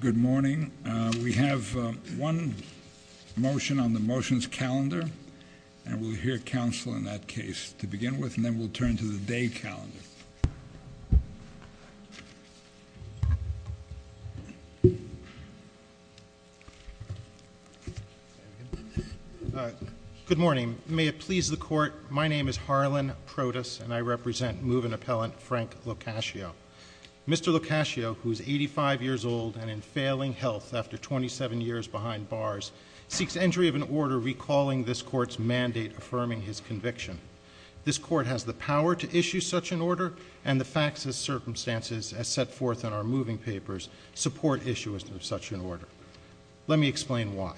Good morning we have one motion on the motions calendar and we'll hear counsel in that case to begin with and then we'll turn to the day calendar. Good morning may it please the court my name is Harlan Protus and I represent move an appellant Frank LoCascio. Mr. LoCascio who's 85 years old and in failing health after 27 years behind bars seeks entry of an order recalling this court's mandate affirming his conviction. This court has the power to issue such an order and the facts as circumstances as set forth in our moving papers support issuance of such an order. Let me explain why.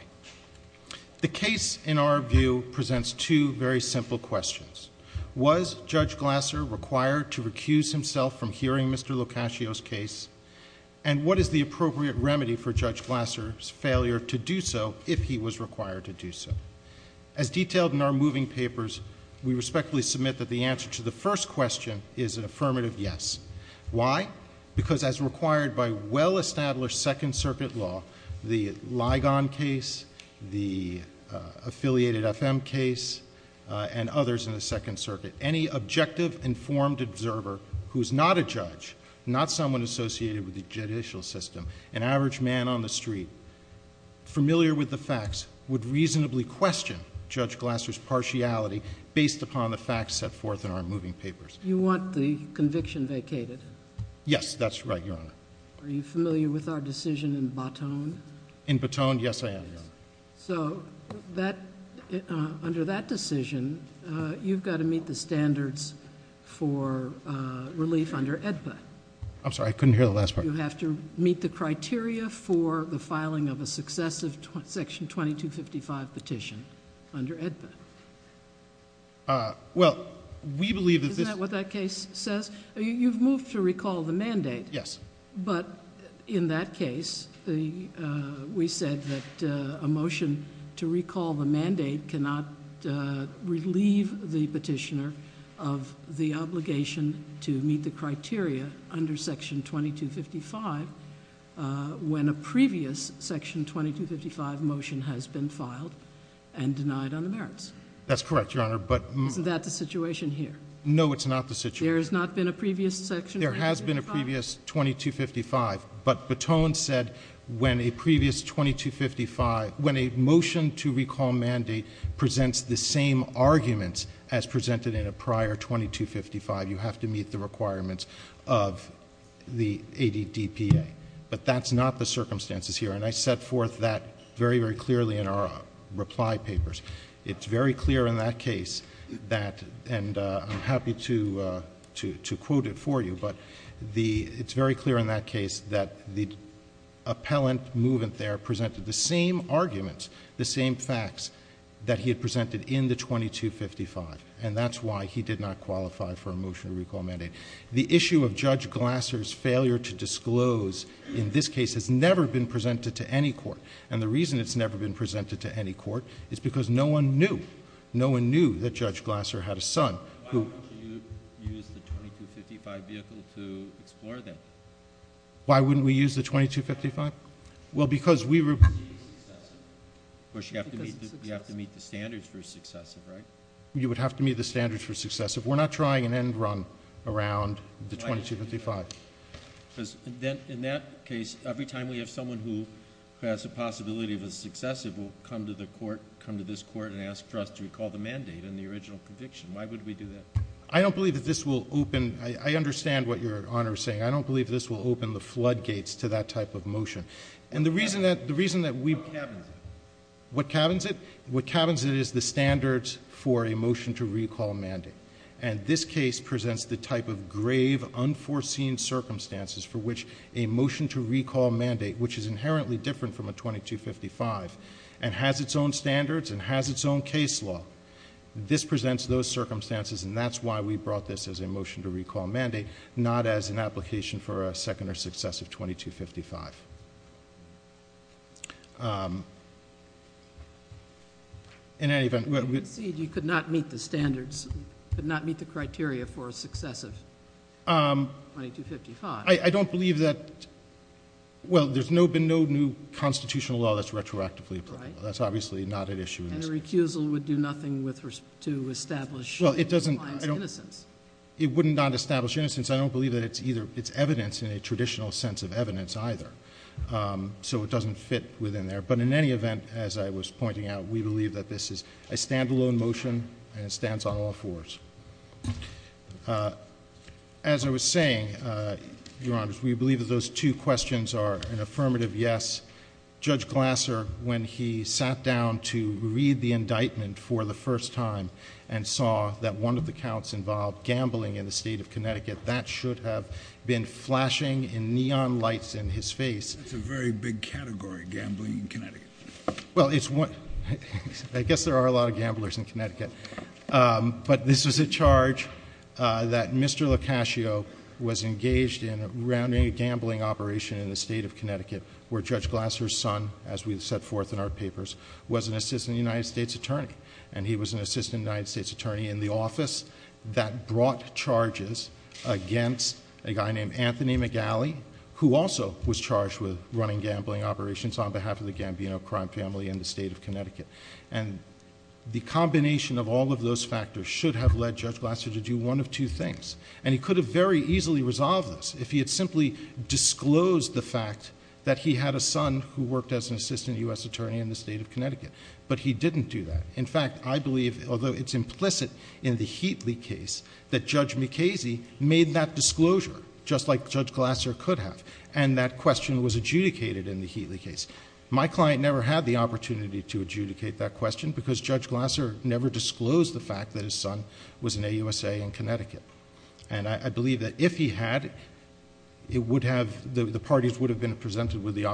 The case in our view presents two very simple questions. Was Judge Glasser required to recuse himself from hearing Mr. LoCascio's case and what is the appropriate remedy for Judge Glasser's failure to do so if he was required to do so. As detailed in our moving papers we respectfully submit that the answer to the first question is an affirmative yes. Why? Because as required by well-established Second Case and others in the Second Circuit any objective informed observer who's not a judge not someone associated with the judicial system an average man on the street familiar with the facts would reasonably question Judge Glasser's partiality based upon the facts set forth in our moving papers. You want the conviction vacated? Yes that's right Your Honor. Are you familiar with our decision in Baton? In Baton yes I am. So under that decision you've got to meet the standards for relief under AEDPA. I'm sorry I couldn't hear the last part. You have to meet the criteria for the filing of a successive section 2255 petition under AEDPA. Well we believe... Isn't that what that case says? You've moved to recall the mandate. We said that a motion to recall the mandate cannot relieve the petitioner of the obligation to meet the criteria under section 2255 when a previous section 2255 motion has been filed and denied on the merits. That's correct Your Honor but... Isn't that the situation here? No it's not the situation. There has not been a previous section 2255? There has been a previous 2255 but Baton said when a previous 2255... when a motion to recall mandate presents the same arguments as presented in a prior 2255 you have to meet the requirements of the AEDPA. But that's not the circumstances here and I set forth that very very clearly in our reply papers. It's very clear in that case that and I'm happy to say that the appellant movement there presented the same arguments, the same facts that he had presented in the 2255 and that's why he did not qualify for a motion to recall mandate. The issue of Judge Glasser's failure to disclose in this case has never been presented to any court and the reason it's never been presented to any court is because no one knew. No one knew that Judge Glasser had a son who... Why wouldn't you use the 2255 vehicle to explore that? Why wouldn't we use the 2255? Well, because we were... You have to meet the standards for successive, right? You would have to meet the standards for successive. We're not trying an end run around the 2255. Then in that case every time we have someone who has a possibility of a successive will come to the court, come to this court and ask for us to recall the mandate in the original conviction. Why would we do that? I don't believe that this will open... I understand what Your Honor is saying. I don't believe this will open the floodgates to that type of motion. The reason that we... What cabins it? What cabins it? What cabins it is the standards for a motion to recall mandate and this case presents the type of grave, unforeseen circumstances for which a motion to recall mandate, which is inherently different from a 2255 and has its own standards and has its own case law. This is why we brought this as a motion to recall mandate, not as an application for a second or successive 2255. In any event... You concede you could not meet the standards, could not meet the criteria for a successive 2255? I don't believe that... Well, there's been no new constitutional law that's retroactively applicable. That's obviously not an issue in this case. And a recusal would do nothing to establish innocence. Well, it doesn't... I don't... It wouldn't not establish innocence. I don't believe that it's either... it's evidence in a traditional sense of evidence, either. So it doesn't fit within there. But in any event, as I was pointing out, we believe that this is a standalone motion and it stands on all fours. As I was saying, Your Honor, we believe that those two questions are an affirmative yes. Judge Glasser, when he sat down to read the motion, he said that he thought that one of the counts involved gambling in the State of Connecticut. That should have been flashing in neon lights in his face. That's a very big category, gambling in Connecticut. Well, it's one... I guess there are a lot of gamblers in Connecticut. But this was a charge that Mr. LoCascio was engaged in around a gambling operation in the State of Connecticut where Judge Glasser's son, as we set forth in our papers, was an assistant United States attorney. And he was an assistant United States attorney in the office that brought charges against a guy named Anthony McGalley, who also was charged with running gambling operations on behalf of the Gambino crime family in the State of Connecticut. And the combination of all of those factors should have led Judge Glasser to do one of two things. And he could have very easily resolved this if he had simply disclosed the fact that he had a son who he didn't do that. In fact, I believe, although it's implicit in the Heatley case, that Judge McCasey made that disclosure, just like Judge Glasser could have. And that question was adjudicated in the Heatley case. My client never had the opportunity to adjudicate that question because Judge Glasser never disclosed the fact that his son was an AUSA in Connecticut. And I believe that if he had, it would have... the parties would have been presented with the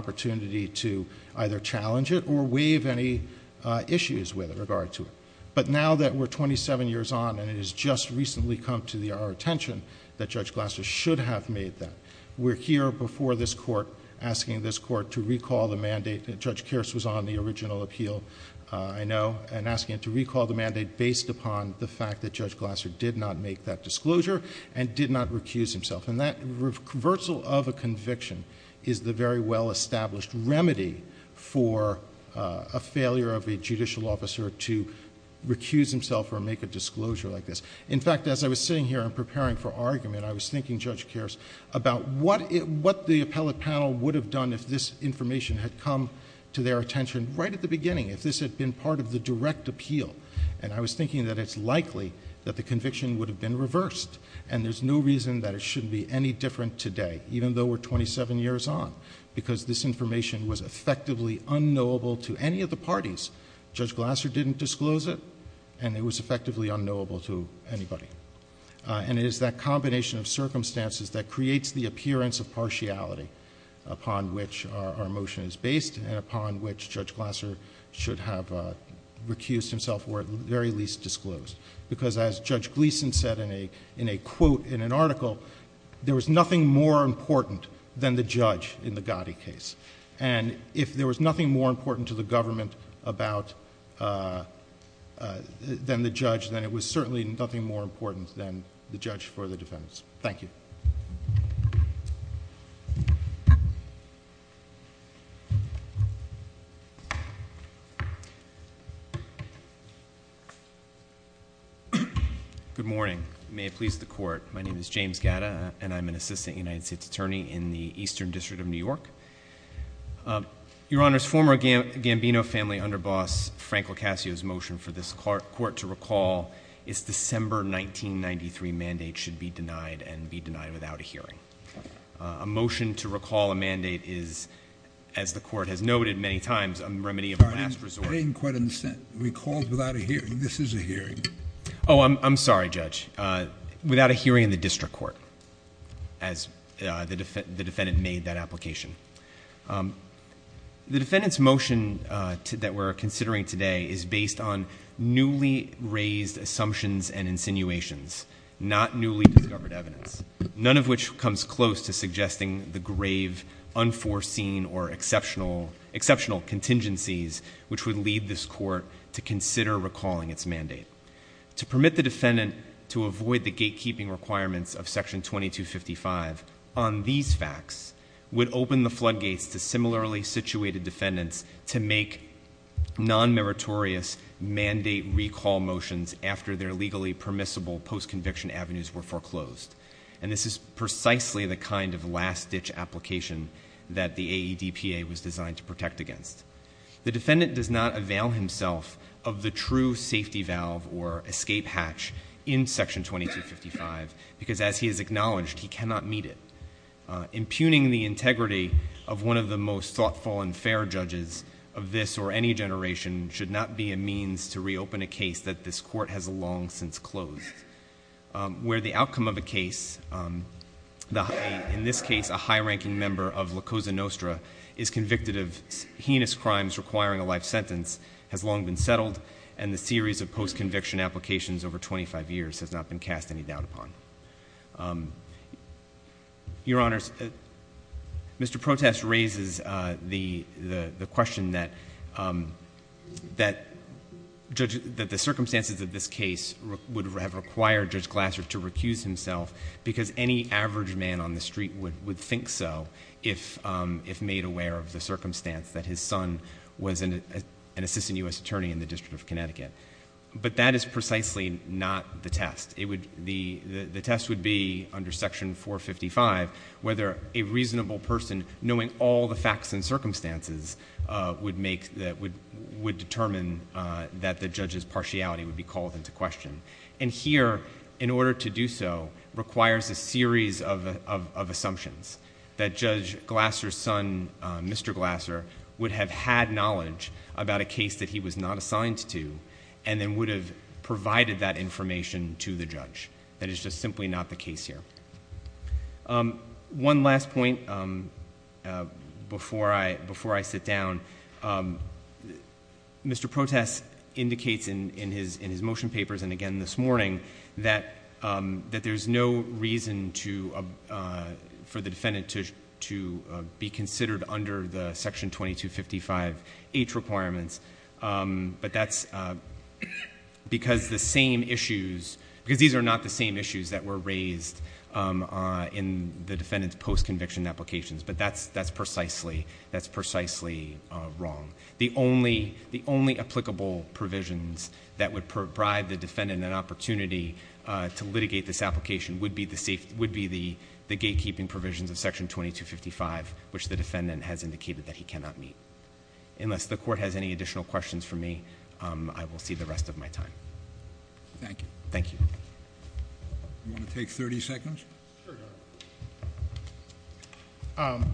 issues with regard to it. But now that we're 27 years on and it has just recently come to our attention that Judge Glasser should have made that, we're here before this Court asking this Court to recall the mandate. Judge Kearse was on the original appeal, I know, and asking it to recall the mandate based upon the fact that Judge Glasser did not make that disclosure and did not recuse himself. And that reversal of a conviction is the very well-established remedy for a failure of a judicial officer to recuse himself or make a disclosure like this. In fact, as I was sitting here and preparing for argument, I was thinking, Judge Kearse, about what the appellate panel would have done if this information had come to their attention right at the beginning, if this had been part of the direct appeal. And I was thinking that it's likely that the conviction would have been reversed. And there's no reason that it shouldn't be any different today, even though we're 27 years on, because this information was effectively unknowable to any of the parties. Judge Glasser didn't disclose it, and it was effectively unknowable to anybody. And it is that combination of circumstances that creates the appearance of partiality upon which our motion is based and upon which Judge Glasser should have recused himself or at the very least disclosed. Because as Judge Gleeson said in a quote in an article, there was nothing more important than the judge in the Gotti case. And if there was nothing more important to the government about... than the judge, then it was certainly nothing more important than the judge for the defense. Thank you. Good morning. May it please the Court. My name is James Gatta, and I'm an assistant United States Attorney in the Eastern District of New York. Your Honors, former Gambino family underboss Frank LoCascio's motion for this Court to recall its December 1993 mandate should be denied and be denied without a hearing. A motion to recall a mandate is, as the Court has noted many times, a remedy of last resort. I didn't quite understand. Recalled without a hearing. This is a hearing. Oh, I'm sorry, Judge. Without a hearing in the district court, as the defendant made that application. The defendant's motion that we're considering today is based on newly raised assumptions and insinuations, not newly discovered evidence, none of which comes close to suggesting the grave unforeseen or exceptional contingencies which would lead this Court to consider recalling its mandate. To permit the defendant to avoid the gatekeeping requirements of Section 2255 on these facts would open the floodgates to non-meritorious mandate recall motions after their legally permissible post-conviction avenues were foreclosed. And this is precisely the kind of last-ditch application that the AEDPA was designed to protect against. The defendant does not avail himself of the true safety valve or escape hatch in Section 2255 because, as he has acknowledged, he cannot meet it. Impugning the integrity of one of the most thoughtful and fair judges of this or any generation should not be a means to reopen a case that this Court has long since closed. Where the outcome of a case, in this case a high-ranking member of Lacoza-Nostra, is convicted of heinous crimes requiring a life sentence, has long been settled and the series of post-conviction applications over 25 years has not been cast any doubt upon. Your Honors, Mr. Protest raises the question that the circumstances of this case would have required Judge Glasser to recuse himself because any average man on the street would think so if made aware of the circumstance that his son was an assistant U.S. attorney in the District of Connecticut. But that is... the test would be, under Section 455, whether a reasonable person, knowing all the facts and circumstances, would determine that the judge's partiality would be called into question. Here, in order to do so, requires a series of assumptions that Judge Glasser's son, Mr. Glasser, would have had knowledge about a case that he was not assigned to and then would have provided that information to the judge. That is just simply not the case here. One last point before I sit down. Mr. Protest indicates in his motion papers and again this morning that there's no reason for the defendant to be considered under the Section 2255H requirements because these are not the same issues that were raised in the defendant's post-conviction applications. But that's precisely wrong. The only applicable provisions that would provide the defendant an opportunity to litigate this application would be the gatekeeping provisions of Section 2255 which the defendant has indicated that he cannot meet. Unless the Court has any additional questions for me, I will see the rest of my time. Thank you. Thank you. Do you want to take thirty seconds? Sure, Your Honor.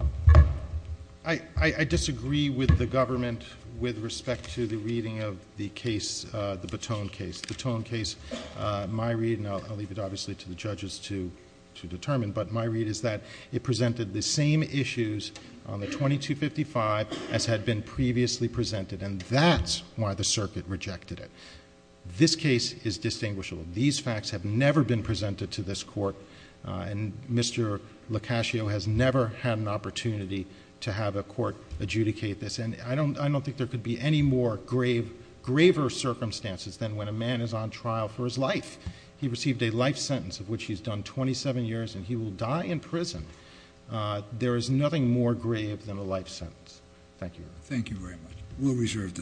I disagree with the government with respect to the reading of the case, the Batone case. The Batone case, my reading, and I'll leave it there, presented the same issues on the 2255 as had been previously presented and that's why the Circuit rejected it. This case is distinguishable. These facts have never been presented to this Court and Mr. LoCascio has never had an opportunity to have a Court adjudicate this. And I don't think there could be any more graver circumstances than when a man is on trial for his life. He received a life sentence of which he's done twenty-seven years and he will die in prison. There is nothing more grave than a life sentence. Thank you, Your Honor. Thank you very much. We'll reserve the decision.